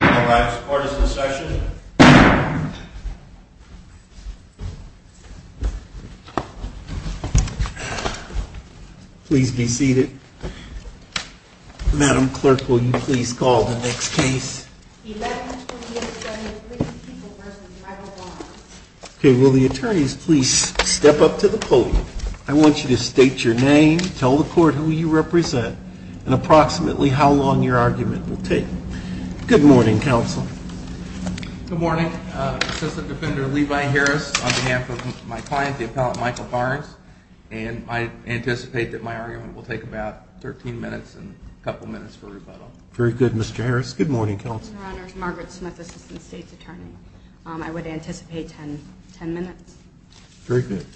All rise. Court is in session. Please be seated. Madam Clerk, will you please call the next case? Eleventh Court of Appeals, Session Three, People v. Michael Barnes. Okay, will the attorneys please step up to the podium. I want you to state your name, tell the court who you represent, and approximately how long your argument will take. Good morning, Counsel. Good morning. Assistant Defender Levi Harris on behalf of my client, the appellant Michael Barnes. And I anticipate that my argument will take about 13 minutes and a couple minutes for rebuttal. Very good, Mr. Harris. Good morning, Counsel. Your Honors, Margaret Smith, Assistant State's Attorney. I would anticipate 10 minutes. Very good.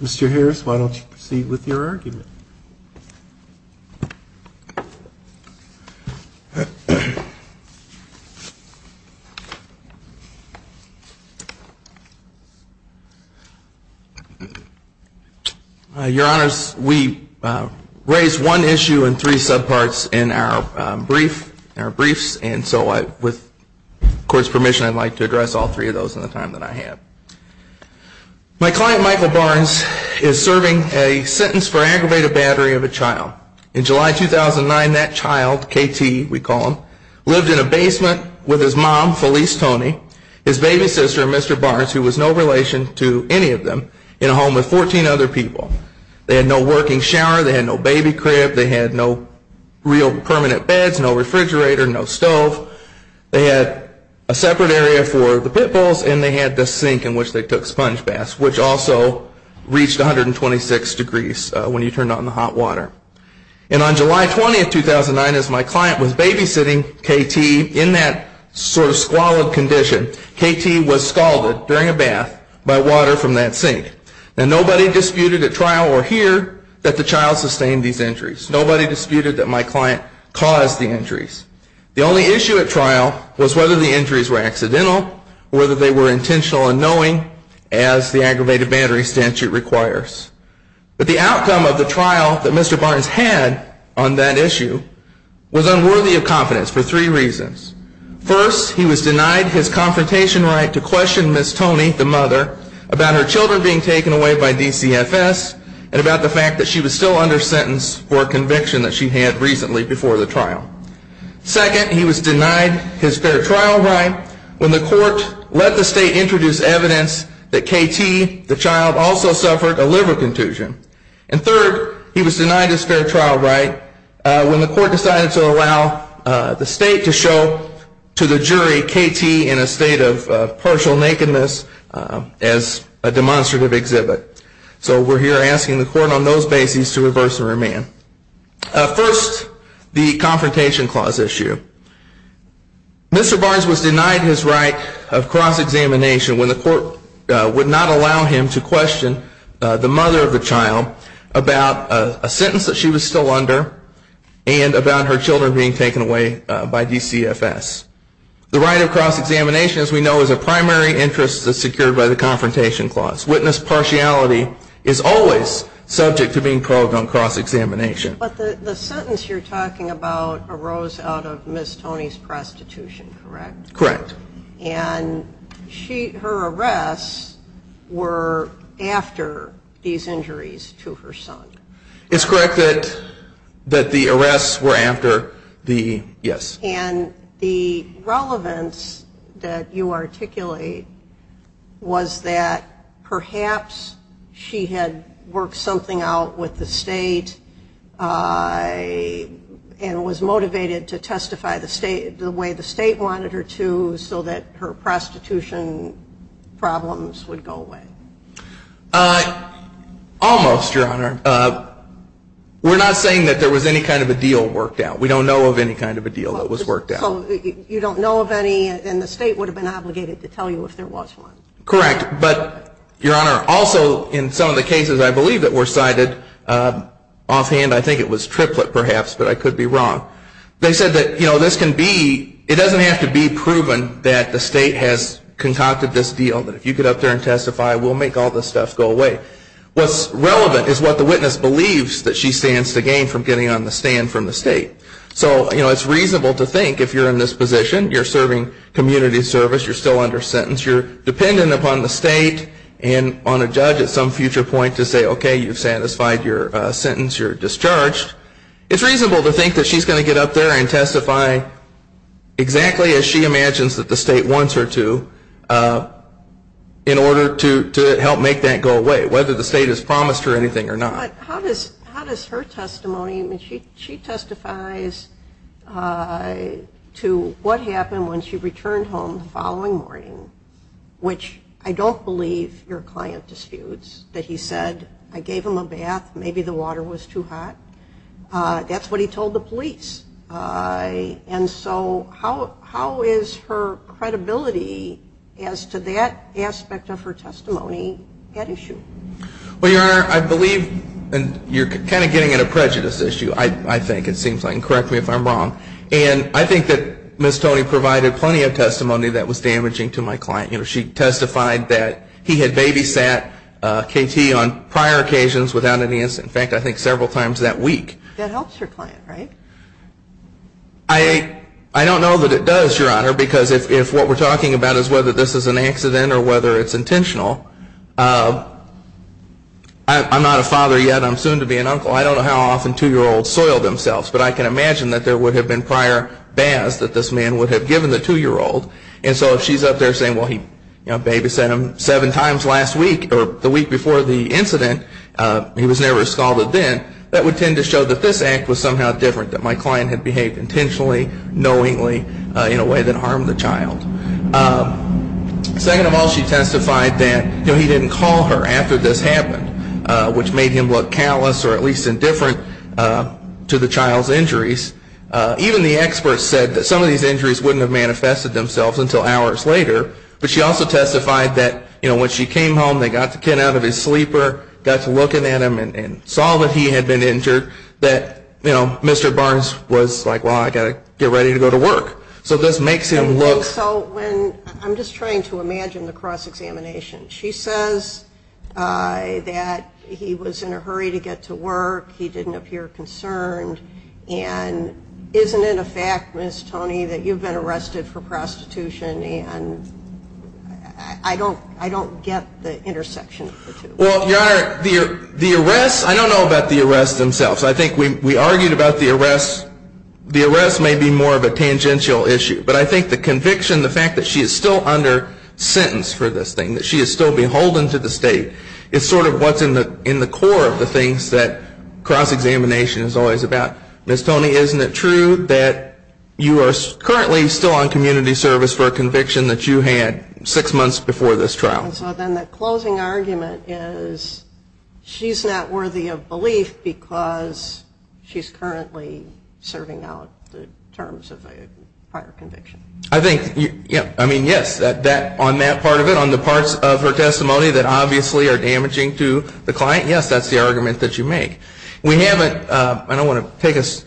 Mr. Harris, why don't you proceed with your argument. Your Honors, we raised one issue and three subparts in our briefs, and so with the Court's permission, I'd like to address all three of those in the time that I have. My client, Michael Barnes, is serving a sentence for aggravated battery of a child. In July 2009, that child, KT, we call him, lived in a basement with his mom, Felice Tony, his baby sister, Mr. Barnes, who was no relation to any of them, in a home with 14 other people. They had no working shower. They had no baby crib. They had no real permanent beds, no refrigerator, no stove. They had a separate area for the pit bulls, and they had this sink in which they took sponge baths, which also reached 126 degrees when you turned on the hot water. And on July 20, 2009, as my client was babysitting KT in that sort of squalid condition, KT was scalded during a bath by water from that sink. And nobody disputed at trial or here that the child sustained these injuries. Nobody disputed that my client caused the injuries. The only issue at trial was whether the injuries were accidental, whether they were intentional or unknowing, as the aggravated battery statute requires. But the outcome of the trial that Mr. Barnes had on that issue was unworthy of confidence for three reasons. First, he was denied his confrontation right to question Ms. Tony, the mother, about her children being taken away by DCFS, and about the fact that she was still under sentence for a conviction that she had recently before the trial. Second, he was denied his fair trial right when the court let the state introduce evidence that KT, the child, also suffered a liver contusion. And third, he was denied his fair trial right when the court decided to allow the state to show to the jury KT in a state of partial nakedness as a demonstrative exhibit. So we're here asking the court on those bases to reverse and remand. First, the confrontation clause issue. Mr. Barnes was denied his right of cross-examination when the court would not allow him to question the mother of the child about a sentence that she was still under and about her children being taken away by DCFS. The right of cross-examination, as we know, is a primary interest that's secured by the confrontation clause. Witness partiality is always subject to being called on cross-examination. But the sentence you're talking about arose out of Ms. Tony's prostitution, correct? Correct. And her arrests were after these injuries to her son. It's correct that the arrests were after the, yes. And the relevance that you articulate was that perhaps she had worked something out with the state and was motivated to testify the way the state wanted her to so that her prostitution problems would go away. Almost, Your Honor. We're not saying that there was any kind of a deal worked out. We don't know of any kind of a deal that was worked out. You don't know of any, and the state would have been obligated to tell you if there was one. Correct. But, Your Honor, also in some of the cases I believe that were cited offhand, I think it was triplet perhaps, but I could be wrong. They said that this can be, it doesn't have to be proven that the state has concocted this deal, that if you get up there and testify, we'll make all this stuff go away. What's relevant is what the witness believes that she stands to gain from getting on the stand from the state. So it's reasonable to think if you're in this position, you're serving community service, you're still under sentence, you're dependent upon the state and on a judge at some future point to say, okay, you've satisfied your sentence, you're discharged. It's reasonable to think that she's going to get up there and testify exactly as she imagines that the state wants her to in order to help make that go away. Whether the state has promised her anything or not. How does her testimony, I mean, she testifies to what happened when she returned home the following morning, which I don't believe your client disputes, that he said, I gave him a bath, maybe the water was too hot. And so how is her credibility as to that aspect of her testimony at issue? Well, Your Honor, I believe you're kind of getting at a prejudice issue, I think. It seems like, and correct me if I'm wrong. And I think that Ms. Tony provided plenty of testimony that was damaging to my client. You know, she testified that he had babysat KT on prior occasions without any incident. In fact, I think several times that week. That helps your client, right? I don't know that it does, Your Honor. Because if what we're talking about is whether this is an accident or whether it's intentional, I'm not a father yet. I'm soon to be an uncle. I don't know how often two-year-olds soil themselves. But I can imagine that there would have been prior baths that this man would have given the two-year-old. And so if she's up there saying, well, he babysat him seven times last week or the week before the incident, he was never scalded then, that would tend to show that this act was somehow different, that my client had behaved intentionally, knowingly, in a way that harmed the child. Second of all, she testified that he didn't call her after this happened, which made him look callous or at least indifferent to the child's injuries. Even the experts said that some of these injuries wouldn't have manifested themselves until hours later. But she also testified that when she came home, they got the kid out of his sleeper, got to looking at him, and saw that he had been injured, that Mr. Barnes was like, well, I got to get ready to go to work. So this makes him look- And so when, I'm just trying to imagine the cross-examination. She says that he was in a hurry to get to work. He didn't appear concerned. And isn't it a fact, Ms. Toney, that you've been arrested for prostitution and I don't get the intersection of the two. Well, Your Honor, the arrests, I don't know about the arrests themselves. I think we argued about the arrests. The arrests may be more of a tangential issue, but I think the conviction, the fact that she is still under sentence for this thing, that she is still beholden to the state, is sort of what's in the core of the things that cross-examination is always about. Ms. Toney, isn't it true that you are currently still on community service for a conviction that you had six months before this trial? And so then the closing argument is she's not worthy of belief because she's currently serving out the terms of a prior conviction. I think, I mean, yes, on that part of it, on the parts of her testimony that obviously are damaging to the client, yes, that's the argument that you make. We haven't, I don't want to take us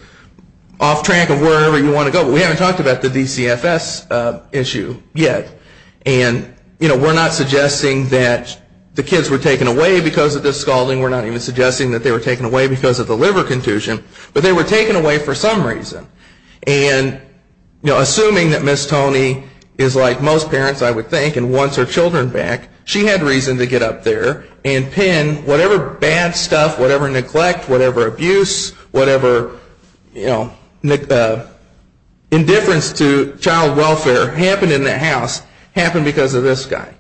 off track of wherever you want to go, but we haven't talked about the DCFS issue yet. And, you know, we're not suggesting that the kids were taken away because of this scalding. We're not even suggesting that they were taken away because of the liver contusion. But they were taken away for some reason. And, you know, assuming that Ms. Toney is like most parents, I would think, and wants her children back, she had reason to get up there and pin whatever bad stuff, whatever neglect, whatever abuse, whatever, you know, indifference to child welfare happened in that house, happened because of this guy.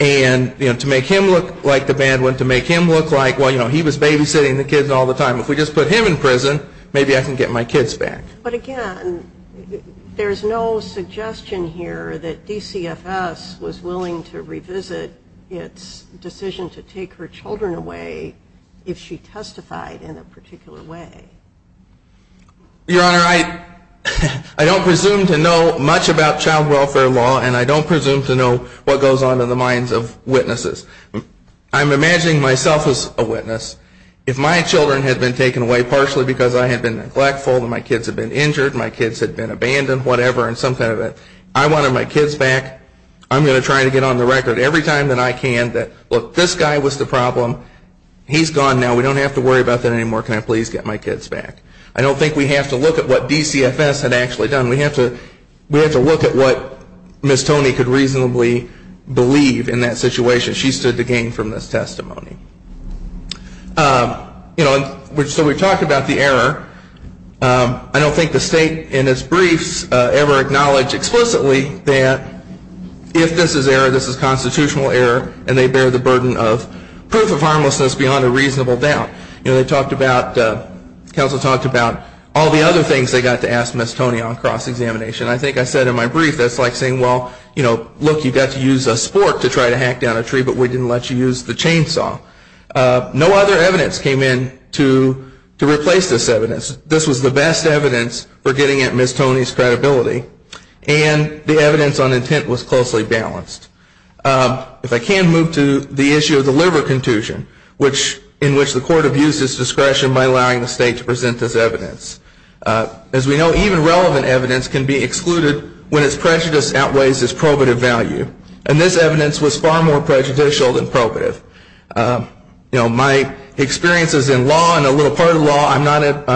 And, you know, to make him look like the bad one, to make him look like, well, you know, he was babysitting the kids all the time. If we just put him in prison, maybe I can get my kids back. But again, there's no suggestion here that DCFS was willing to revisit its decision to take her children away if she testified in a particular way. Your Honor, I don't presume to know much about child welfare law, and I don't presume to know what goes on in the minds of witnesses. I'm imagining myself as a witness. If my children had been taken away partially because I had been neglectful and my kids had been injured, my kids had been abandoned, whatever, and some kind of it, I wanted my kids back, I'm going to try to get on the record every time that I can that, look, this guy was the problem. He's gone now. We don't have to worry about that anymore. Can I please get my kids back? I don't think we have to look at what DCFS had actually done. We have to look at what Ms. Toney could reasonably believe in that situation. She stood to gain from this testimony. So we talked about the error. I don't think the State in its briefs ever acknowledged explicitly that if this is error, this is constitutional error, and they bear the burden of proof of harmlessness beyond a reasonable doubt. They talked about, counsel talked about all the other things they got to ask Ms. Toney on cross-examination. I think I said in my brief, that's like saying, well, look, you got to use a sport to try to hack down a tree, but we didn't let you use the chainsaw. No other evidence came in to replace this evidence. This was the best evidence for getting at Ms. Toney's credibility, and the evidence on intent was closely balanced. If I can move to the issue of the liver contusion, in which the court abused its discretion by allowing the State to present this evidence. As we know, even relevant evidence can be excluded when its prejudice outweighs its probative value, and this evidence was far more prejudicial than probative. My experiences in law, and a little part of law, I'm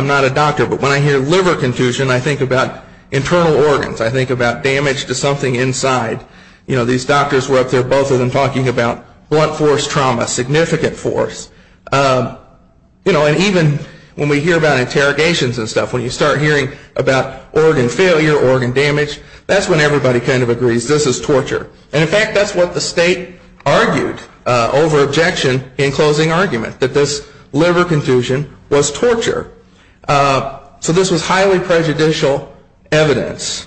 not a doctor, but when I hear liver contusion, I think about internal organs. I think about damage to something inside. These doctors were up there, both of them, talking about blunt force trauma, significant force. And even when we hear about interrogations and stuff, when you start hearing about organ failure, organ damage, that's when everybody kind of agrees this is torture. And in fact, that's what the State argued over objection in closing argument, that this liver contusion was torture. So this was highly prejudicial evidence,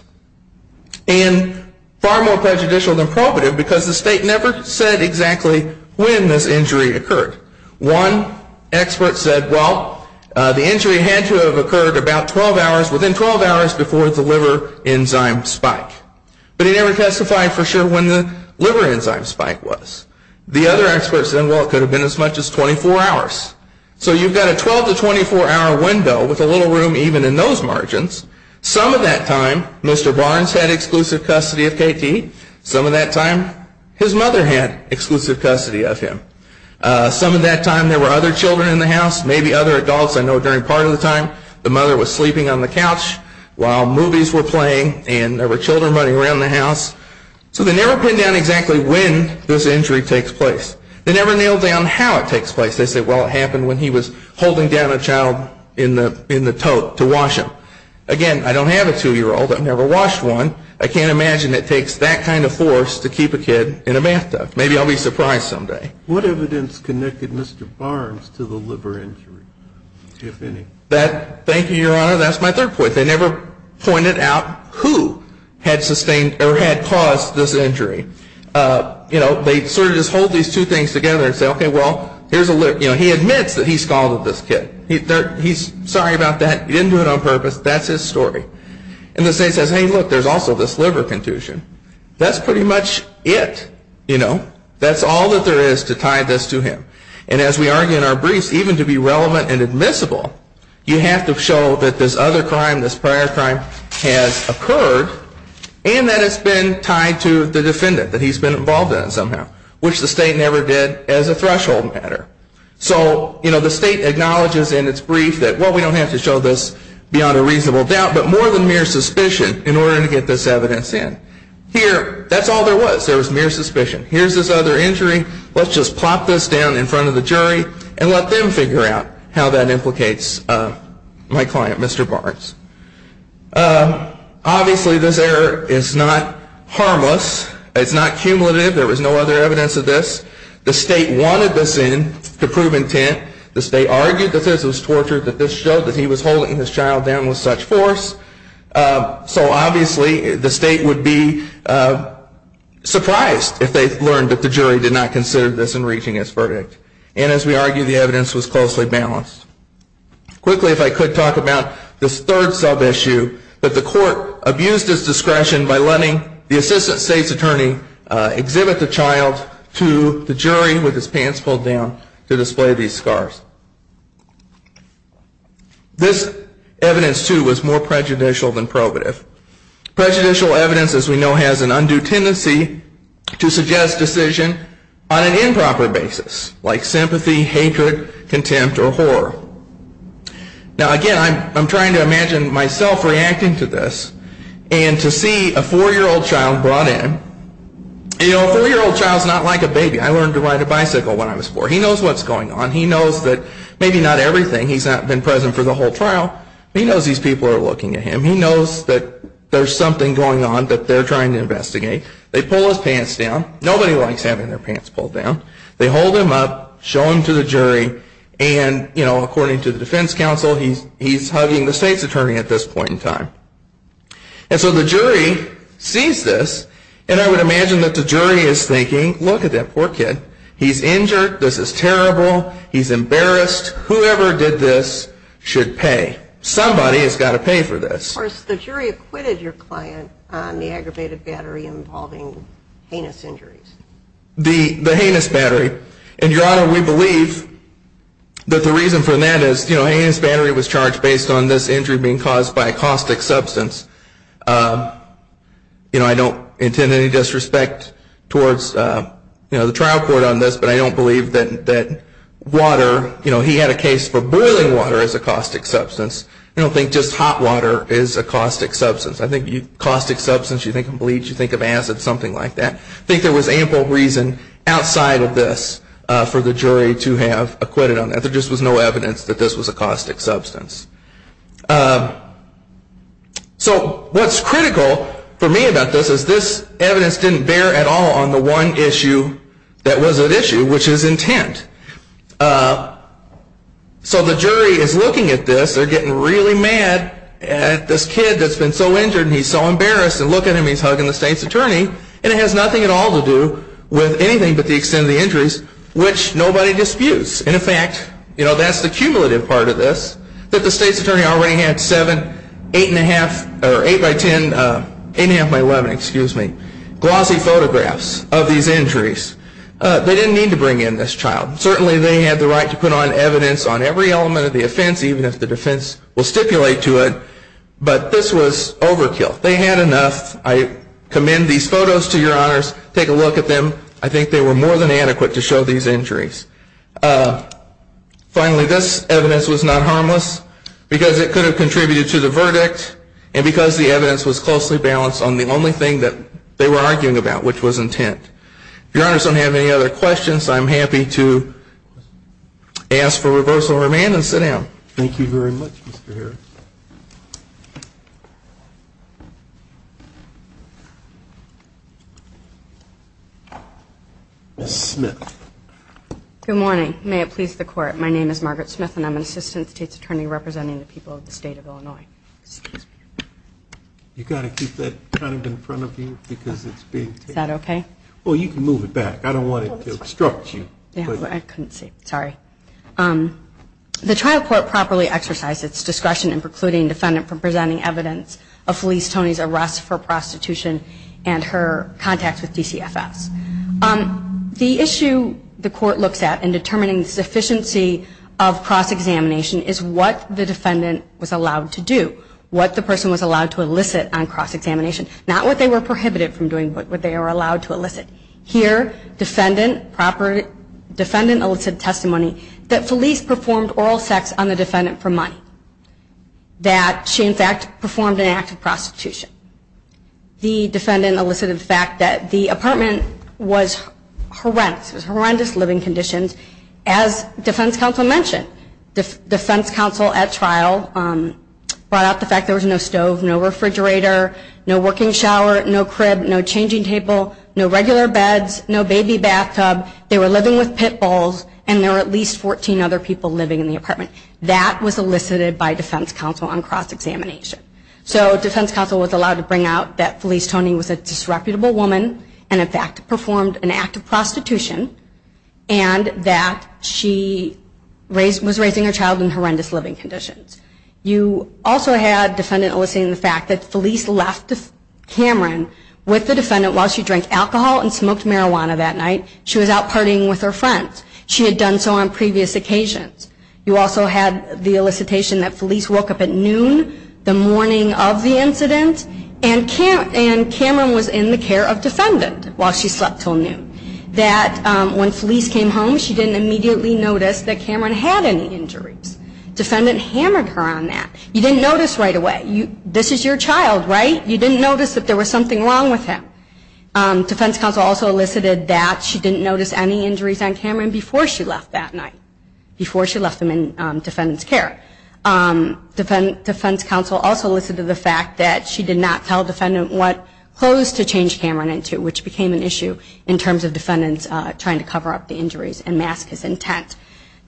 and far more prejudicial than probative, because the State never said exactly when this injury occurred. One expert said, well, the injury had to have occurred about 12 hours, within 12 hours before the liver enzyme spike. But he never testified for sure when the liver enzyme spike was. The other expert said, well, it could have been as much as 24 hours. So you've got a 12 to 24 hour window, with a little room even in those margins. Some of that time, Mr. Barnes had exclusive custody of KT. Some of that time, his mother had exclusive custody of him. Some of that time, there were other children in the house, maybe other adults. I know during part of the time, the mother was sleeping on the couch, while movies were playing, and there were children running around the house. So they never pin down exactly when this injury takes place. They never nail down how it takes place. They say, well, it happened when he was holding down a child in the tote to wash him. Again, I don't have a two-year-old. I've never washed one. I can't imagine it takes that kind of force to keep a kid in a bathtub. Maybe I'll be surprised someday. What evidence connected Mr. Barnes to the liver injury, if any? Thank you, Your Honor. That's my third point. They never pointed out who had caused this injury. They sort of just hold these two things together and say, okay, well, he admits that he scalded this kid. He's sorry about that. He didn't do it on purpose. That's his story. And the state says, hey, look, there's also this liver contusion. That's pretty much it. That's all that there is to tie this to him. And as we argue in our briefs, even to be relevant and admissible, you have to show that this other crime, this prior crime, has occurred and that it's been tied to the defendant that he's been involved in somehow, which the state never did as a threshold matter. So the state acknowledges in its brief that, well, we don't have to show this beyond a reasonable doubt, but more than mere suspicion in order to get this evidence in. Here, that's all there was. There was mere suspicion. Here's this other injury. Let's just plop this down in front of the jury and let them figure out how that implicates my client, Mr. Barnes. Obviously, this error is not harmless. It's not cumulative. There was no other evidence of this. The state wanted this in to prove intent. The state argued that this was torture, that this showed that he was holding his child down with such force. So obviously, the state would be surprised if they learned that the jury did not consider this in reaching its verdict. And as we argue, the evidence was closely balanced. Quickly, if I could, talk about this third sub-issue, that the court abused its discretion by letting the assistant state's attorney exhibit the child to the jury with his pants pulled down to display these scars. This evidence, too, was more prejudicial than probative. Prejudicial evidence, as we know, has an undue tendency to suggest decision on an improper basis, like sympathy, hatred, contempt, or horror. Now, again, I'm trying to imagine myself reacting to this and to see a four-year-old child brought in. You know, a four-year-old child's not like a baby. I learned to ride a bicycle when I was four. He knows what's going on. He knows that he's a child. But maybe not everything. He's not been present for the whole trial. But he knows these people are looking at him. He knows that there's something going on that they're trying to investigate. They pull his pants down. Nobody likes having their pants pulled down. They hold him up, show him to the jury. And, you know, according to the defense counsel, he's hugging the state's attorney at this point in time. And so the jury sees this, and I would imagine that the jury is thinking, look at that poor kid. He's injured. This is terrible. He's embarrassed. Whoever did this should pay. Somebody has got to pay for this. Of course, the jury acquitted your client on the aggravated battery involving heinous injuries. The heinous battery. And, Your Honor, we believe that the reason for that is, you know, a heinous battery was charged based on this injury being caused by a caustic substance. You know, I don't intend any disrespect towards, you know, the trial court on this, but I don't believe that water, you know, he had a case for boiling water as a caustic substance. I don't think just hot water is a caustic substance. I think caustic substance, you think of bleach, you think of acid, something like that. I think there was ample reason outside of this for the jury to have acquitted on that. There just was no evidence that this was a caustic substance. So what's critical for me about this is this evidence didn't bear at all on the one issue that was at issue, which is intent. So the jury is looking at this, they're getting really mad at this kid that's been so injured and he's so embarrassed, and look at him, he's hugging the state's attorney, and it has nothing at all to do with anything but the extent of the injuries, which nobody disputes. And, in fact, you know, that's the cumulative part of this, that the state's attorney already had seven, eight and a half, or eight by ten, eight and a half by 11, excuse me, glossy photographs of these injuries. They didn't need to bring in this child. Certainly they had the right to put on evidence on every element of the offense, even if the defense will stipulate to it, but this was overkill. They had enough. I commend these photos to your honors. Take a look at them. I think they were more than adequate to show these injuries. Finally, this evidence was not harmless because it could have contributed to the verdict and because the evidence was closely balanced on the only thing that they were arguing about, which was intent. If your honors don't have any other questions, I'm happy to ask for reversal of remand and sit down. Thank you very much, Mr. Harris. Ms. Smith. Good morning. May it please the court, my name is Margaret Smith and I'm an assistant state's attorney representing the people of the state of Illinois. You've got to keep that kind of in front of you because it's big. Is that okay? Well, you can move it back. I don't want it to obstruct you. Sorry. The trial court properly exercised its discretion in providing evidence and precluding defendant from presenting evidence of Felice Toney's arrest for prostitution and her contact with DCFS. The issue the court looks at in determining the sufficiency of cross-examination is what the defendant was allowed to do, what the person was allowed to elicit on cross-examination. Not what they were prohibited from doing, but what they were allowed to elicit. Here, defendant elicited testimony that Felice performed oral sex on the defendant for money. That she in fact performed an act of prostitution. The defendant elicited the fact that the apartment was horrendous, it was horrendous living conditions. As defense counsel mentioned, defense counsel at trial brought out the fact there was no stove, no refrigerator, no working shower, no crib, no changing table, no regular beds, no baby bathtub, they were living with pit bulls and there were at least 14 other people living in the apartment. That was elicited by defense counsel on cross-examination. So defense counsel was allowed to bring out that Felice Toney was a disreputable woman and in fact performed an act of prostitution and that she was raising her child in horrendous living conditions. You also had defendant eliciting the fact that Felice left Cameron with the defendant while she drank alcohol and smoked marijuana that night. She was out partying with her friends. She had done so on previous occasions. You also had the elicitation that Felice woke up at noon the morning of the incident and Cameron was in the care of defendant while she slept until noon. That when Felice came home she didn't immediately notice that Cameron had any injuries. Defendant hammered her on that. You didn't notice right away. This is your child, right? You didn't notice that there was something wrong with him. Defense counsel also elicited that she didn't notice any injuries on Cameron before she left that night, before she left him in defendant's care. Defense counsel also elicited the fact that she did not tell defendant what clothes to change Cameron into, which became an issue in terms of defendants trying to cover up the injuries and mask his intent.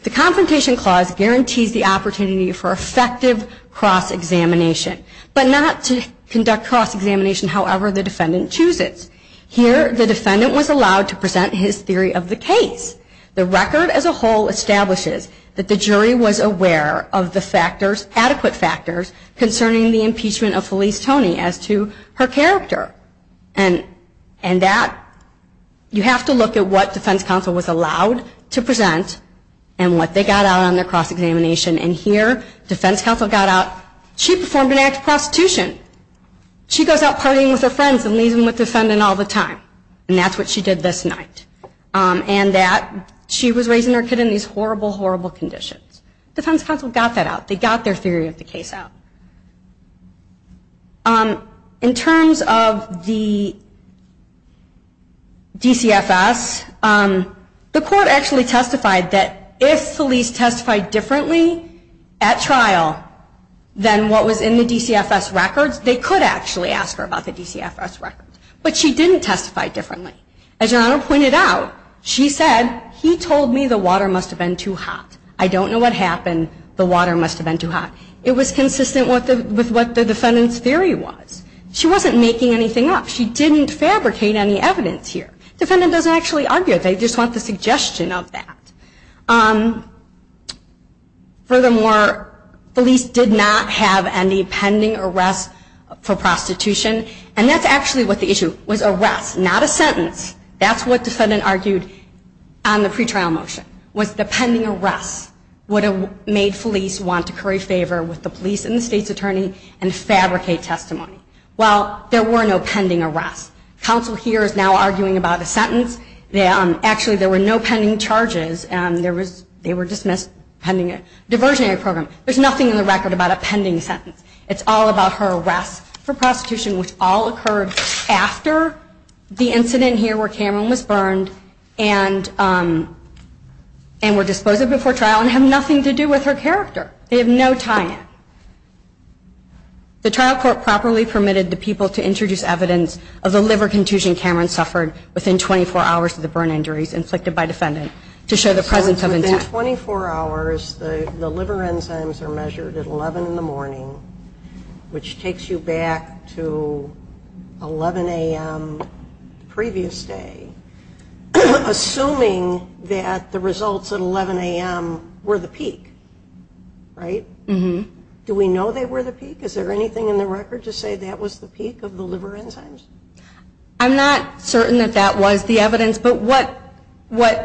The Confrontation Clause guarantees the opportunity for effective cross-examination, but not to conduct cross-examination however the defendant chooses. Here the defendant was allowed to present his theory of the case. The record as a whole establishes that the jury was aware of the factors, adequate factors, concerning the impeachment of Felice Toney as to her character. And that, you have to look at what defense counsel was allowed to present and what they got out on their cross-examination. And here, defense counsel got out, she performed an act of prostitution. She goes out partying with her friends and leaves them with the defendant all the time. And that's what she did this night. And that, she was raising her kid in these horrible, horrible conditions. Defense counsel got that out. They got their theory of the case out. In terms of the DCFS, the court actually testified that if Felice testified differently, at trial, than what was in the DCFS records, they could actually ask her about the DCFS records. But she didn't testify differently. As Your Honor pointed out, she said, he told me the water must have been too hot. I don't know what happened. The water must have been too hot. It was consistent with what the defendant's theory was. She wasn't making anything up. She didn't fabricate any evidence here. Defendant doesn't actually argue. They just want the suggestion of that. Furthermore, Felice did not have any pending arrest for prostitution. And that's actually what the issue was, arrest, not a sentence. That's what defendant argued on the pretrial motion, was the pending arrest would have made Felice want to curry favor with the police and the state's attorney and fabricate testimony. Well, there were no pending arrests. Counsel here is now arguing about a sentence. Actually, there were no pending charges, and they were dismissed pending a diversionary program. There's nothing in the record about a pending sentence. It's all about her arrest for prostitution, which all occurred after the incident here where Cameron was burned and were disposed of before trial and have nothing to do with her character. They have no tie-in. The trial court properly permitted the people to introduce evidence of the liver contusion Cameron suffered within 24 hours of the burn injuries inflicted by defendant to show the presence of intent. So within 24 hours, the liver enzymes are measured at 11 in the morning, which takes you back to 11 a.m. the previous day, assuming that the results at 11 a.m. were the peak, right? Mm-hmm. Do we know they were the peak? Is there anything in the record to say that was the peak of the liver enzymes? I'm not certain that that was the evidence, but what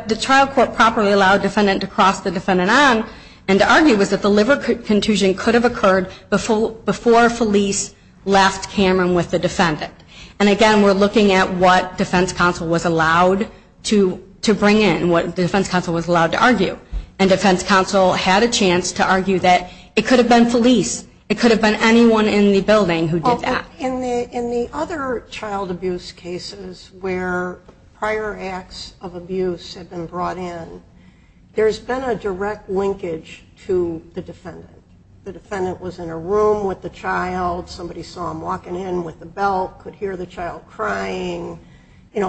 the trial court properly allowed defendant to cross the defendant on and to argue was that the liver contusion could have occurred before Felice left Cameron with the defendant. And again, we're looking at what defense counsel was allowed to bring in, what the defense counsel was allowed to argue. And defense counsel had a chance to argue that it could have been Felice. It could have been anyone in the building who did that. In the other child abuse cases where prior acts of abuse had been brought in, there's been a direct linkage to the defendant. The defendant was in a room with the child. Somebody saw him walking in with the belt, could hear the child crying.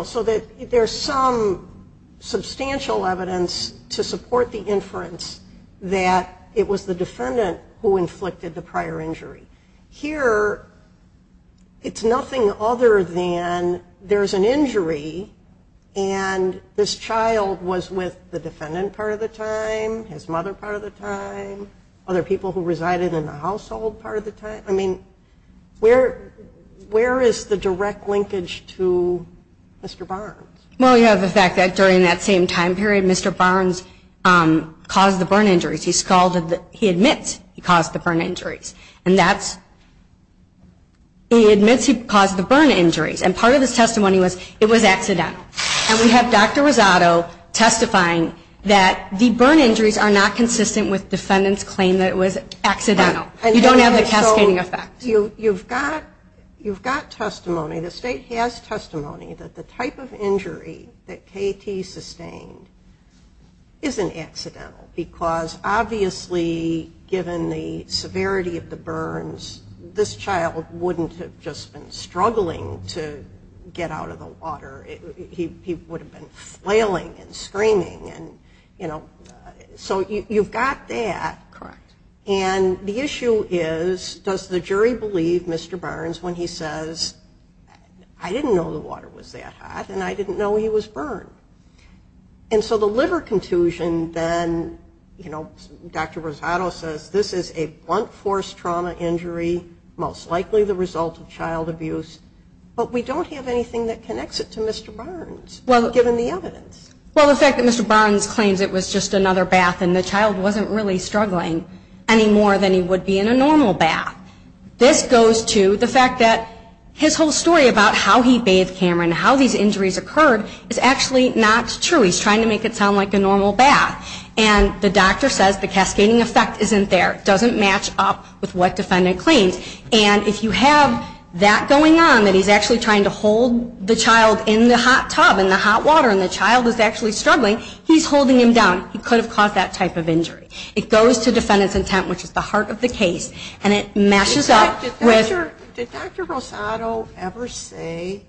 So there's some substantial evidence to support the inference that it was the defendant who inflicted the prior injury. Here it's nothing other than there's an injury and this child was with the defendant part of the time, his mother part of the time, other people who resided in the household part of the time. I mean, where is the direct linkage to Mr. Barnes? Well, you have the fact that during that same time period, Mr. Barnes caused the burn injuries. He admitted he caused the burn injuries. And that's he admits he caused the burn injuries. And part of his testimony was it was accidental. And we have Dr. Rosado testifying that the burn injuries are not consistent with the defendant's claim that it was accidental. You don't have the cascading effect. You've got testimony. The state has testimony that the type of injury that K.T. sustained isn't accidental because obviously given the severity of the burns, this child wouldn't have just been struggling to get out of the water. He would have been flailing and screaming. So you've got that. Correct. And the issue is does the jury believe Mr. Barnes when he says, I didn't know the water was that hot and I didn't know he was burned. And so the liver contusion then, you know, Dr. Rosado says, this is a blunt force trauma injury, most likely the result of child abuse. But we don't have anything that connects it to Mr. Barnes, given the evidence. Well, the fact that Mr. Barnes claims it was just another bath and the child wasn't really struggling any more than he would be in a normal bath, this goes to the fact that his whole story about how he bathed Cameron and how these injuries occurred is actually not true. He's trying to make it sound like a normal bath. And the doctor says the cascading effect isn't there. It doesn't match up with what defendant claims. And if you have that going on, that he's actually trying to hold the child in the hot tub in the hot water and the child is actually struggling, he's holding him down. He could have caused that type of injury. It goes to defendant's intent, which is the heart of the case, and it matches up with – Did Dr. Rosado ever say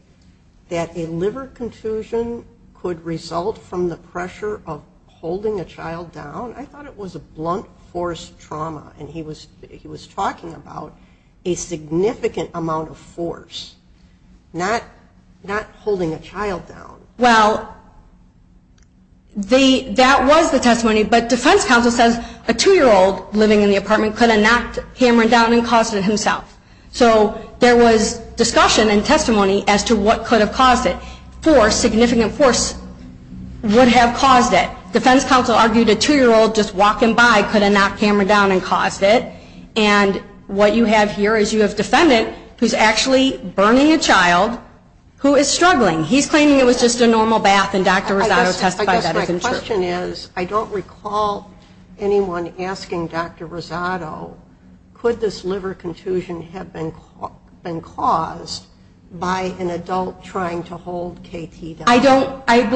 that a liver contusion could result from the pressure of holding a child down? I thought it was a blunt force trauma. And he was talking about a significant amount of force, not holding a child down. Well, that was the testimony. But defense counsel says a two-year-old living in the apartment could have knocked Cameron down and caused it himself. So there was discussion and testimony as to what could have caused it. Force, significant force, would have caused it. Defense counsel argued a two-year-old just walking by could have knocked Cameron down and caused it. And what you have here is you have defendant who's actually burning a child who is struggling. He's claiming it was just a normal bath, and Dr. Rosado testified that it was true. I guess my question is, I don't recall anyone asking Dr. Rosado, could this liver contusion have been caused by an adult trying to hold KT down? I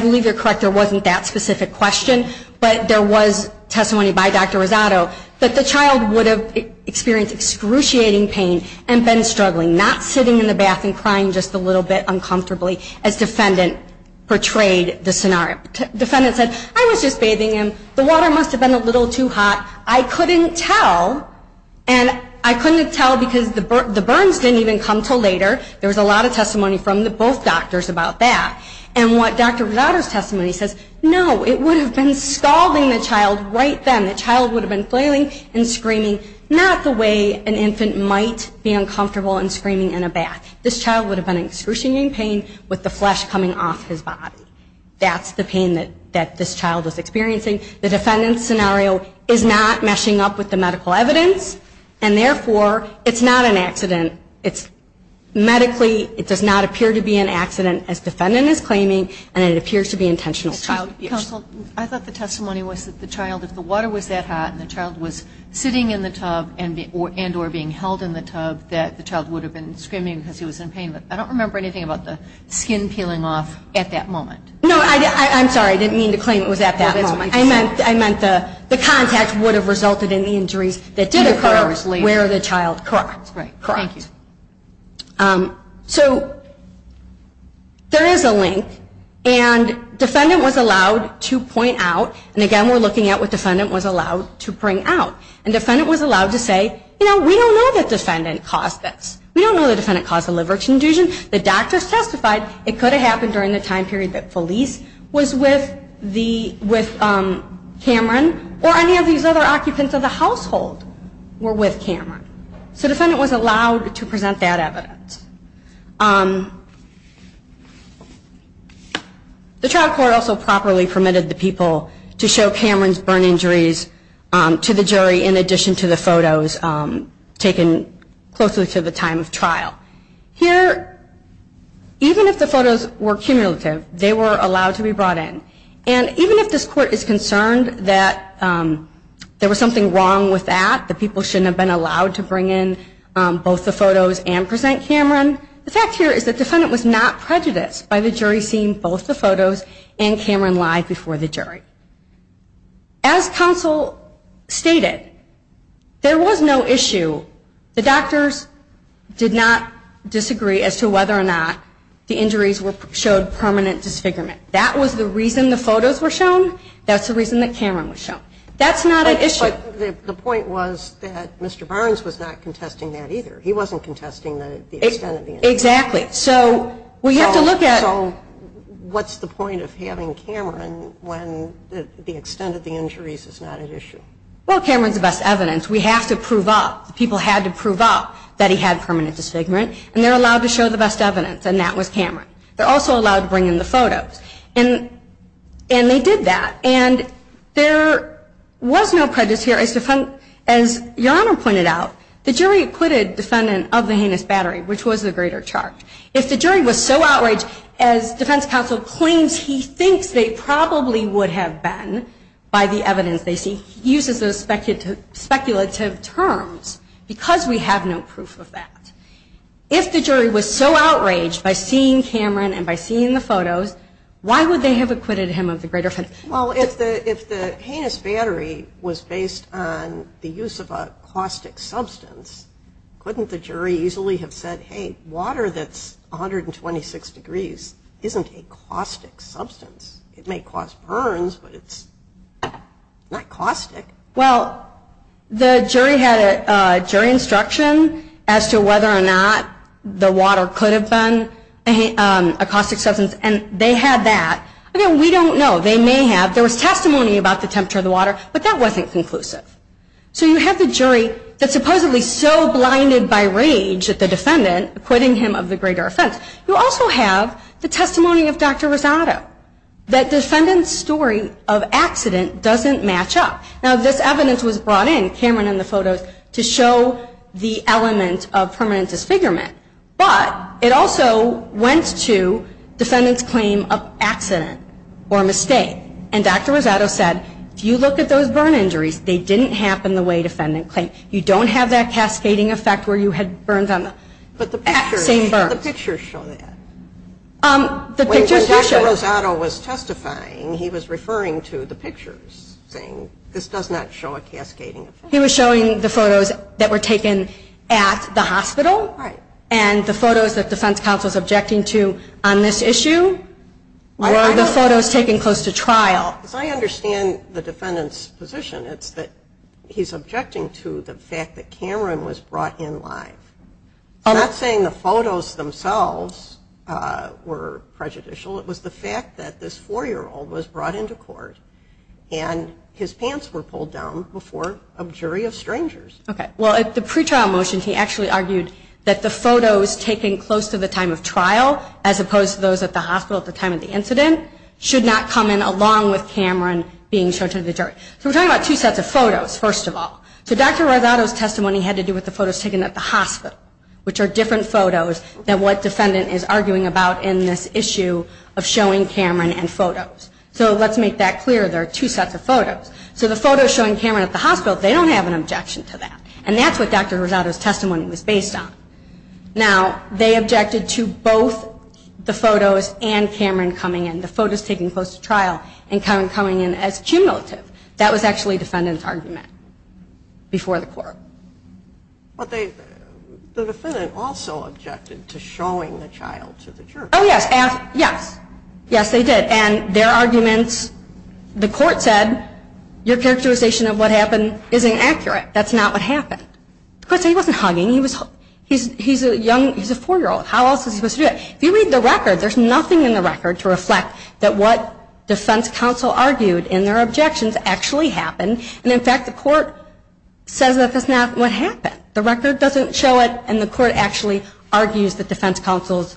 believe you're correct, there wasn't that specific question, but there was testimony by Dr. Rosado that the child would have experienced excruciating pain and been struggling, not sitting in the bath and crying just a little bit uncomfortably, as defendant portrayed the scenario. Defendant said, I was just bathing him. The water must have been a little too hot. I couldn't tell, and I couldn't tell because the burns didn't even come until later. There was a lot of testimony from both doctors about that. And what Dr. Rosado's testimony says, no, it would have been scalding the child right then. The child would have been flailing and screaming, not the way an infant might be uncomfortable and screaming in a bath. This child would have been in excruciating pain with the flesh coming off his body. That's the pain that this child was experiencing. The defendant's scenario is not meshing up with the medical evidence, and therefore it's not an accident. It's medically, it does not appear to be an accident, as defendant is claiming, and it appears to be intentional. Counsel, I thought the testimony was that the child, if the water was that hot and the child was sitting in the tub and or being held in the tub, that the child would have been screaming because he was in pain, but I don't remember anything about the skin peeling off at that moment. No, I'm sorry, I didn't mean to claim it was at that moment. I meant the contact would have resulted in the injuries that did occur where the child cracked. Thank you. So there is a link, and defendant was allowed to point out, and again we're looking at what defendant was allowed to bring out. And defendant was allowed to say, you know, we don't know that defendant caused this. We don't know that defendant caused the liver contusion. The doctors testified it could have happened during the time period that Felice was with Cameron or any of these other occupants of the household were with Cameron. So defendant was allowed to present that evidence. The trial court also properly permitted the people to show Cameron's burn injuries to the jury in addition to the photos taken closely to the time of trial. Here, even if the photos were cumulative, they were allowed to be brought in. And even if this court is concerned that there was something wrong with that, the people shouldn't have been allowed to bring in both the photos and present cameras, The fact here is that defendant was not prejudiced by the jury seeing both the photos and Cameron lie before the jury. As counsel stated, there was no issue. The doctors did not disagree as to whether or not the injuries showed permanent disfigurement. That was the reason the photos were shown. That's the reason that Cameron was shown. That's not an issue. But the point was that Mr. Barnes was not contesting that either. He wasn't contesting the extent of the injuries. Exactly. So we have to look at. So what's the point of having Cameron when the extent of the injuries is not an issue? Well, Cameron's the best evidence. We have to prove up. The people had to prove up that he had permanent disfigurement. And they're allowed to show the best evidence, and that was Cameron. They're also allowed to bring in the photos. And they did that. And there was no prejudice here. As Your Honor pointed out, the jury acquitted defendant of the heinous battery, which was the greater charge. If the jury was so outraged, as defense counsel claims he thinks they probably would have been by the evidence they see, he uses those speculative terms, because we have no proof of that. If the jury was so outraged by seeing Cameron and by seeing the photos, why would they have acquitted him of the greater charge? Well, if the heinous battery was based on the use of a caustic substance, couldn't the jury easily have said, hey, water that's 126 degrees isn't a caustic substance? It may cause burns, but it's not caustic. Well, the jury had a jury instruction as to whether or not the water could have been a caustic substance. And they had that. Again, we don't know. They may have. There was testimony about the temperature of the water, but that wasn't conclusive. So you have the jury that's supposedly so blinded by rage at the defendant acquitting him of the greater offense. You also have the testimony of Dr. Rosado, that defendant's story of accident doesn't match up. Now, this evidence was brought in, Cameron and the photos, to show the element of permanent disfigurement. But it also went to defendant's claim of accident or mistake. And Dr. Rosado said, if you look at those burn injuries, they didn't happen the way defendant claimed. You don't have that cascading effect where you had burns on the same burn. But the pictures show that. When Dr. Rosado was testifying, he was referring to the pictures, saying this does not show a cascading effect. He was showing the photos that were taken at the hospital. And the photos that defense counsel is objecting to on this issue were the photos taken close to trial. As I understand the defendant's position, it's that he's objecting to the fact that Cameron was brought in live. He's not saying the photos themselves were prejudicial. It was the fact that this 4-year-old was brought into court and his pants were pulled down before a jury of strangers. Well, at the pretrial motion, he actually argued that the photos taken close to the time of trial, as opposed to those at the hospital at the time of the incident, should not come in along with Cameron being shown to the jury. So we're talking about two sets of photos, first of all. So Dr. Rosado's testimony had to do with the photos taken at the hospital, which are different photos than what defendant is arguing about in this issue of showing Cameron and photos. So let's make that clear. There are two sets of photos. So the photos showing Cameron at the hospital, they don't have an objection to that. And that's what Dr. Rosado's testimony was based on. Now, they objected to both the photos and Cameron coming in, the photos taken close to trial and Cameron coming in as cumulative. That was actually defendant's argument before the court. But the defendant also objected to showing the child to the jury. Oh, yes. Yes. Yes, they did. And their arguments, the court said, your characterization of what happened is inaccurate. That's not what happened. Of course, he wasn't hugging. He's a four-year-old. How else is he supposed to do that? If you read the record, there's nothing in the record to reflect that what defense counsel argued and their objections actually happened. And, in fact, the court says that that's not what happened. The record doesn't show it, and the court actually argues that defense counsel's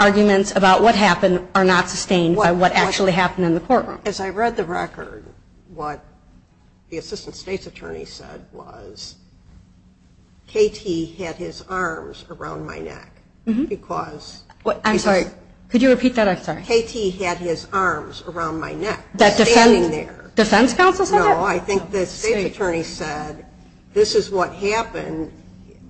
arguments about what happened are not sustained by what actually happened in the courtroom. As I read the record, what the assistant state's attorney said was, K.T. had his arms around my neck because he was ‑‑ I'm sorry. Could you repeat that? I'm sorry. K.T. had his arms around my neck, standing there. Defense counsel said that? No, I think the state's attorney said, this is what happened.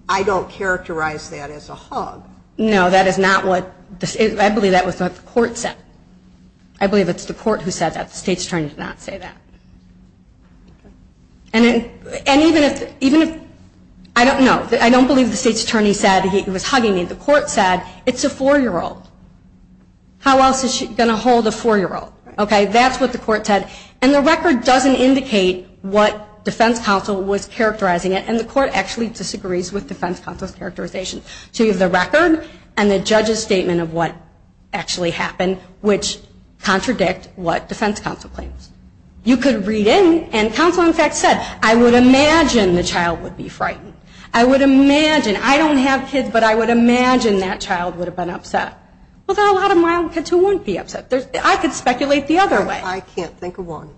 I don't characterize that as a hug. No, that is not what ‑‑ I believe that was what the court said. I believe it's the court who said that. The state's attorney did not say that. And even if ‑‑ I don't know. I don't believe the state's attorney said he was hugging me. The court said, it's a four-year-old. How else is she going to hold a four-year-old? Okay, that's what the court said. And the record doesn't indicate what defense counsel was characterizing it, and the court actually disagrees with defense counsel's characterization. So you have the record and the judge's statement of what actually happened, which contradict what defense counsel claims. You could read in, and counsel, in fact, said, I would imagine the child would be frightened. I would imagine, I don't have kids, but I would imagine that child would have been upset. Well, there are a lot of mild kids who wouldn't be upset. I could speculate the other way. I can't think of one,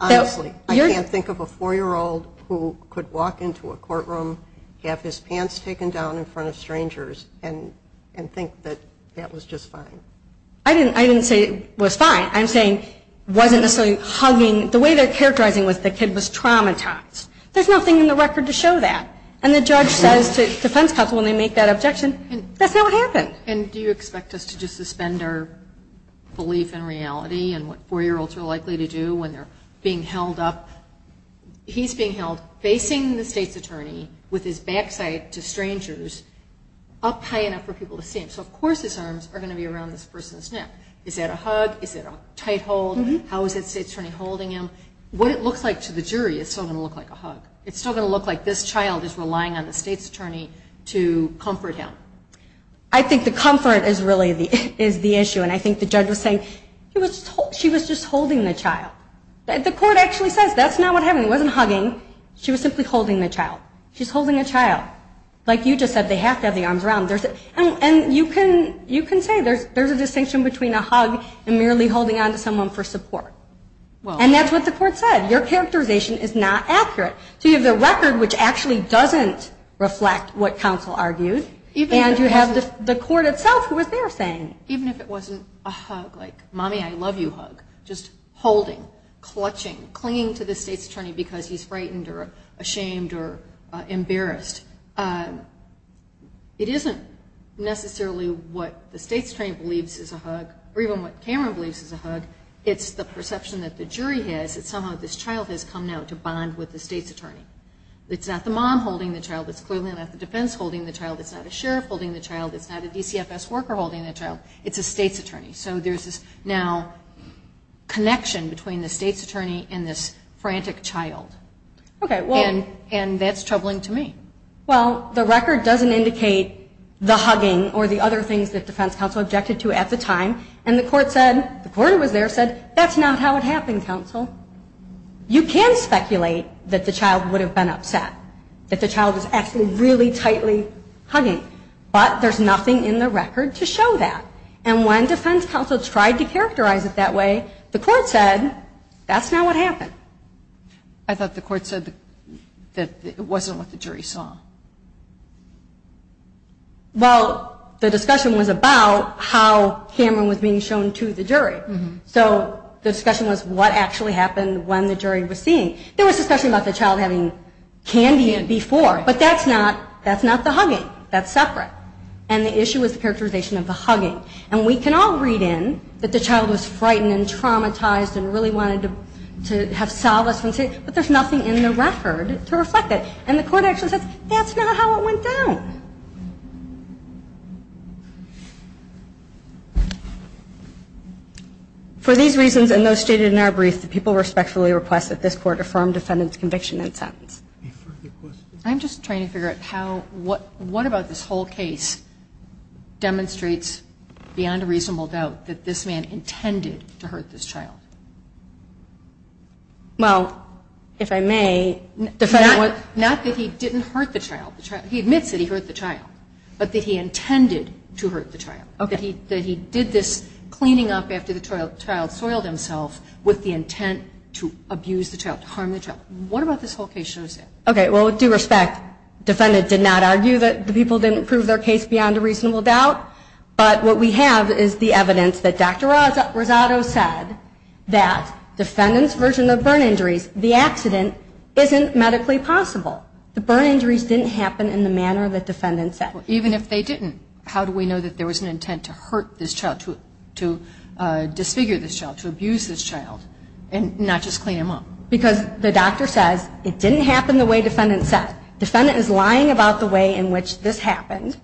honestly. I can't think of a four-year-old who could walk into a courtroom, have his pants taken down in front of strangers, and think that that was just fine. I didn't say it was fine. I'm saying it wasn't necessarily hugging. The way they're characterizing the kid was traumatized. There's nothing in the record to show that. And the judge says to defense counsel when they make that objection, that's not what happened. And do you expect us to just suspend our belief in reality and what four-year-olds are likely to do when they're being held up? He's being held, facing the state's attorney, with his backside to strangers, up high enough for people to see him. So, of course, his arms are going to be around this person's neck. Is that a hug? Is it a tight hold? How is the state's attorney holding him? What it looks like to the jury is still going to look like a hug. It's still going to look like this child is relying on the state's attorney to comfort him. I think the comfort is really the issue, and I think the judge was saying she was just holding the child. The court actually says that's not what happened. It wasn't hugging. She was simply holding the child. She's holding a child. Like you just said, they have to have the arms around. And you can say there's a distinction between a hug and merely holding on to someone for support. And that's what the court said. Your characterization is not accurate. So you have the record, which actually doesn't reflect what counsel argued, and you have the court itself who was there saying. Even if it wasn't a hug, like, Mommy, I love you hug. Just holding, clutching, clinging to the state's attorney because he's frightened or ashamed or embarrassed. It isn't necessarily what the state's attorney believes is a hug, or even what Cameron believes is a hug. It's the perception that the jury has that somehow this child has come now to bond with the state's attorney. It's not the mom holding the child. It's clearly not the defense holding the child. It's not a sheriff holding the child. It's not a DCFS worker holding the child. It's a state's attorney. So there's this now connection between the state's attorney and this frantic child. Okay, well. And that's troubling to me. Well, the record doesn't indicate the hugging or the other things that defense counsel objected to at the time. And the court said, the court was there, said, that's not how it happened, counsel. You can speculate that the child would have been upset, that the child was actually really tightly hugging. But there's nothing in the record to show that. And when defense counsel tried to characterize it that way, the court said, that's not what happened. I thought the court said that it wasn't what the jury saw. Well, the discussion was about how Cameron was being shown to the jury. So the discussion was what actually happened when the jury was seeing. There was discussion about the child having candy before, but that's not the hugging. That's separate. And the issue was the characterization of the hugging. And we can all read in that the child was frightened and traumatized and really wanted to have solace and say, but there's nothing in the record to reflect it. And the court actually says, that's not how it went down. For these reasons and those stated in our brief, the people respectfully request that this Court affirm defendant's conviction and sentence. Any further questions? I'm just trying to figure out how what about this whole case demonstrates, beyond a reasonable doubt, that this man intended to hurt this child? Well, if I may. Not that he didn't hurt the child. He admits that he hurt the child, but that he intended to hurt the child. Okay. That he did this cleaning up after the child soiled himself with the intent to abuse the child, to harm the child. What about this whole case shows that? Okay. Well, with due respect, defendant did not argue that the people didn't prove their case beyond a reasonable doubt. But what we have is the evidence that Dr. Rosado said that defendant's version of burn injuries, the accident isn't medically possible. The burn injuries didn't happen in the manner that defendant said. Even if they didn't, how do we know that there was an intent to hurt this child, to disfigure this child, to abuse this child, and not just clean him up? Because the doctor says it didn't happen the way defendant said. Defendant is lying about the way in which this happened.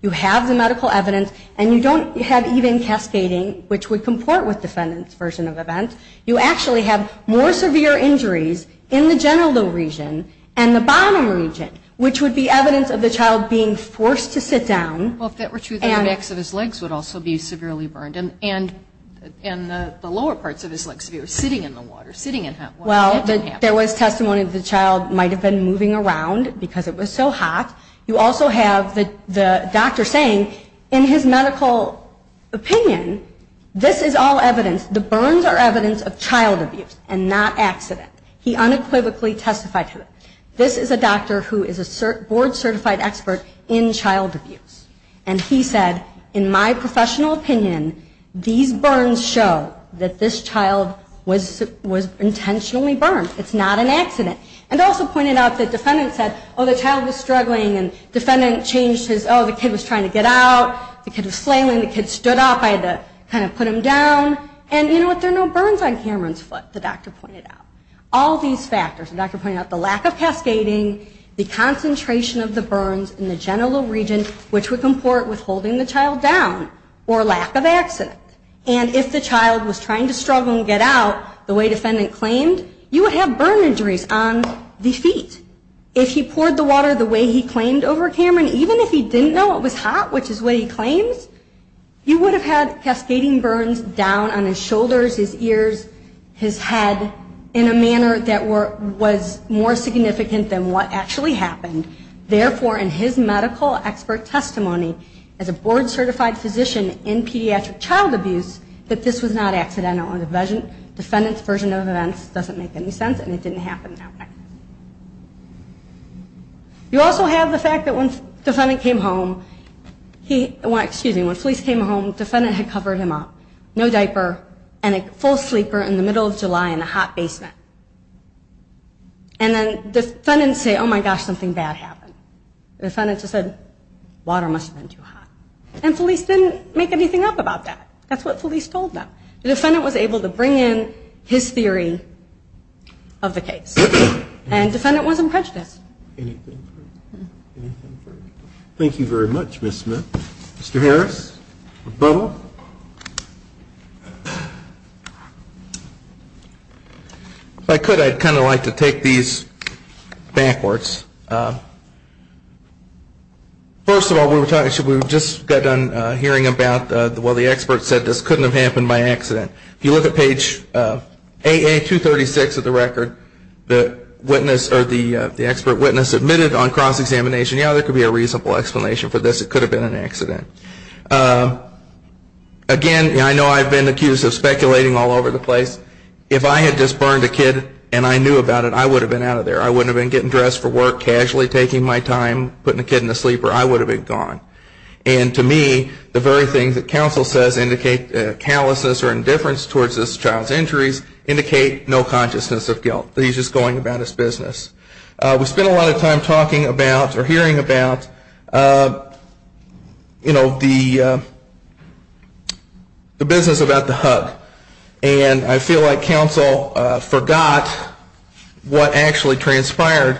You have the medical evidence, and you don't have even cascading, which would comport with defendant's version of events. You actually have more severe injuries in the genital region and the bottom region, which would be evidence of the child being forced to sit down. Well, if that were true, then the backs of his legs would also be severely burned, and the lower parts of his legs would be sitting in the water, sitting in hot water. Well, there was testimony that the child might have been moving around because it was so hot. You also have the doctor saying, in his medical opinion, this is all evidence. The burns are evidence of child abuse and not accident. He unequivocally testified to it. This is a doctor who is a board-certified expert in child abuse. And he said, in my professional opinion, these burns show that this child was intentionally burned. It's not an accident. And also pointed out the defendant said, oh, the child was struggling, and defendant changed his, oh, the kid was trying to get out. The kid was flailing. The kid stood up. I had to kind of put him down. And, you know what, there are no burns on Cameron's foot, the doctor pointed out. All these factors, the doctor pointed out the lack of cascading, the concentration of the burns in the genital region, which would comport with holding the child down, or lack of accident. And if the child was trying to struggle and get out, the way defendant claimed, you would have burn injuries on the feet. If he poured the water the way he claimed over Cameron, even if he didn't know it was hot, which is what he claims, you would have had cascading burns down on his shoulders, his ears, his head, in a manner that was more significant than what actually happened. Therefore, in his medical expert testimony, as a board-certified physician in pediatric child abuse, that this was not accidental. The defendant's version of events doesn't make any sense, and it didn't happen that way. You also have the fact that when the defendant came home, he, excuse me, when Felice came home, the defendant had covered him up, no diaper, and a full sleeper in the middle of July in a hot basement. And then defendants say, oh, my gosh, something bad happened. The defendant just said, water must have been too hot. And Felice didn't make anything up about that. That's what Felice told them. The defendant was able to bring in his theory of the case. And the defendant wasn't prejudiced. Anything further? Anything further? Thank you very much, Ms. Smith. Mr. Harris? If I could, I'd kind of like to take these backwards. First of all, we just got done hearing about, well, the expert said this couldn't have happened by accident. If you look at page AA236 of the record, the expert witness admitted on cross-examination, yeah, there could be a reasonable explanation for this. It could have been an accident. Again, I know I've been accused of speculating all over the place. If I had just burned a kid and I knew about it, I would have been out of there. I wouldn't have been getting dressed for work, casually taking my time, putting a kid in the sleeper. I would have been gone. And to me, the very things that counsel says indicate callousness or indifference towards this child's injuries indicate no consciousness of guilt, that he's just going about his business. We spent a lot of time talking about or hearing about, you know, the business about the hug. And I feel like counsel forgot what actually transpired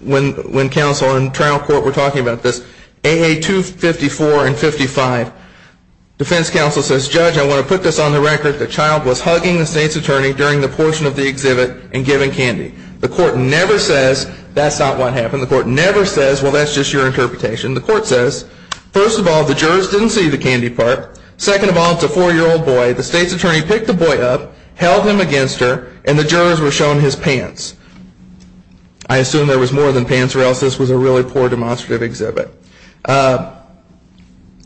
when counsel and trial court were talking about this. AA254 and 55, defense counsel says, Judge, I want to put this on the record. The child was hugging the state's attorney during the portion of the exhibit and giving candy. The court never says that's not what happened. The court never says, well, that's just your interpretation. The court says, first of all, the jurors didn't see the candy part. Second of all, it's a four-year-old boy. The state's attorney picked the boy up, held him against her, and the jurors were shown his pants. I assume there was more than pants or else this was a really poor demonstrative exhibit.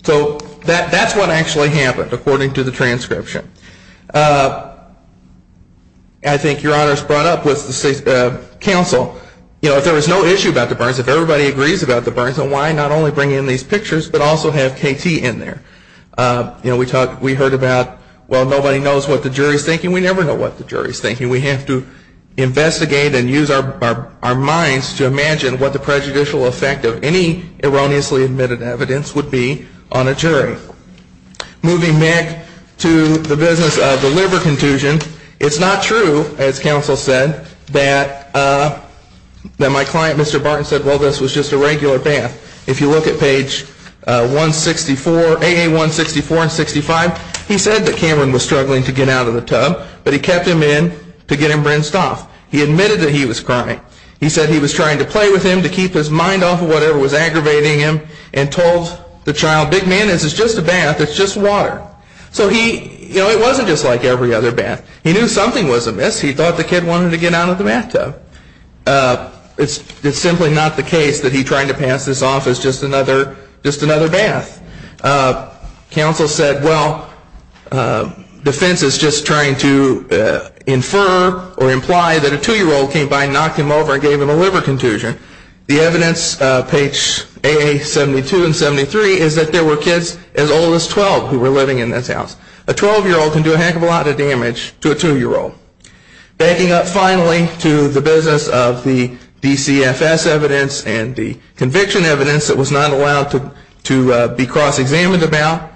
So that's what actually happened according to the transcription. I think Your Honor's brought up with counsel, you know, if there was no issue about the Burns, if everybody agrees about the Burns, then why not only bring in these pictures but also have KT in there? You know, we heard about, well, nobody knows what the jury's thinking. We never know what the jury's thinking. We have to investigate and use our minds to imagine what the prejudicial effect of any erroneously admitted evidence would be on a jury. Moving back to the business of the liver contusion, it's not true, as counsel said, that my client Mr. Barton said, well, this was just a regular bath. If you look at page 164, AA164 and 65, he said that Cameron was struggling to get out of the tub, but he kept him in to get him rinsed off. He admitted that he was crying. He said he was trying to play with him to keep his mind off of whatever was aggravating him and told the child, big man, this is just a bath. It's just water. So he, you know, it wasn't just like every other bath. He knew something was amiss. He thought the kid wanted to get out of the bathtub. It's simply not the case that he tried to pass this off as just another bath. Counsel said, well, defense is just trying to infer or imply that a 2-year-old came by and knocked him over and gave him a liver contusion. The evidence, page AA72 and 73, is that there were kids as old as 12 who were living in this house. A 12-year-old can do a heck of a lot of damage to a 2-year-old. Backing up finally to the business of the DCFS evidence and the conviction evidence that was not allowed to be cross-examined about,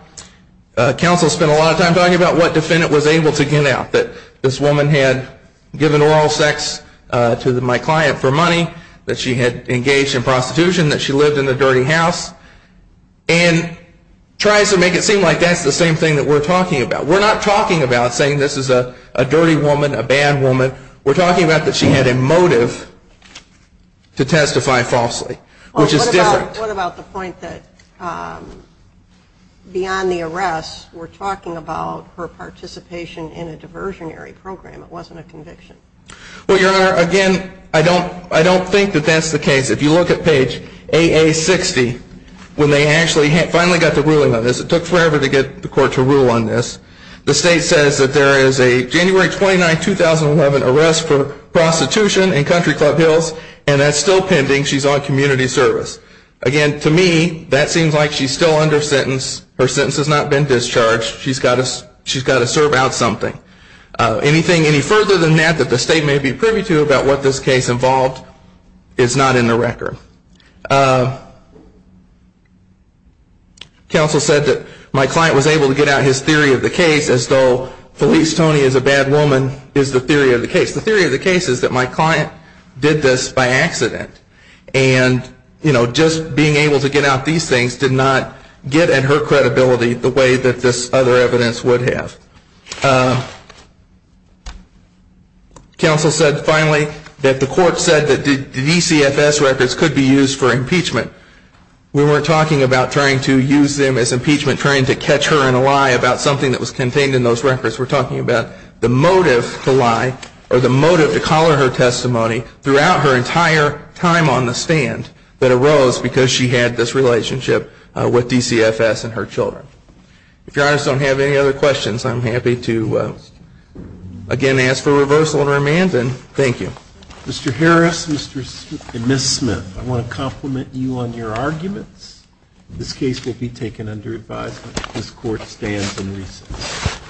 counsel spent a lot of time talking about what defendant was able to get out, that this woman had given oral sex to my client for money, that she had engaged in prostitution, that she lived in a dirty house, and tries to make it seem like that's the same thing that we're talking about. We're not talking about saying this is a dirty woman, a bad woman. We're talking about that she had a motive to testify falsely, which is different. What about the point that beyond the arrest, we're talking about her participation in a diversionary program? It wasn't a conviction. Well, Your Honor, again, I don't think that that's the case. If you look at page AA60, when they actually finally got the ruling on this, it took forever to get the court to rule on this. The state says that there is a January 29, 2011 arrest for prostitution in Country Club Hills, and that's still pending. She's on community service. Again, to me, that seems like she's still under sentence. Her sentence has not been discharged. She's got to serve out something. Anything any further than that that the state may be privy to about what this case involved is not in the record. Counsel said that my client was able to get out his theory of the case as though Felice Toney is a bad woman is the theory of the case. The theory of the case is that my client did this by accident. And, you know, just being able to get out these things did not get at her credibility the way that this other evidence would have. Counsel said finally that the court said that the DCFS records could be used for impeachment. We weren't talking about trying to use them as impeachment, trying to catch her in a lie about something that was contained in those records. We're talking about the motive to lie or the motive to call her her testimony throughout her entire time on the stand that arose because she had this relationship with DCFS and her children. If Your Honor don't have any other questions, I'm happy to, again, ask for reversal and remand. And thank you. Mr. Harris and Ms. Smith, I want to compliment you on your arguments. This case will be taken under advisement. This court stands in recess.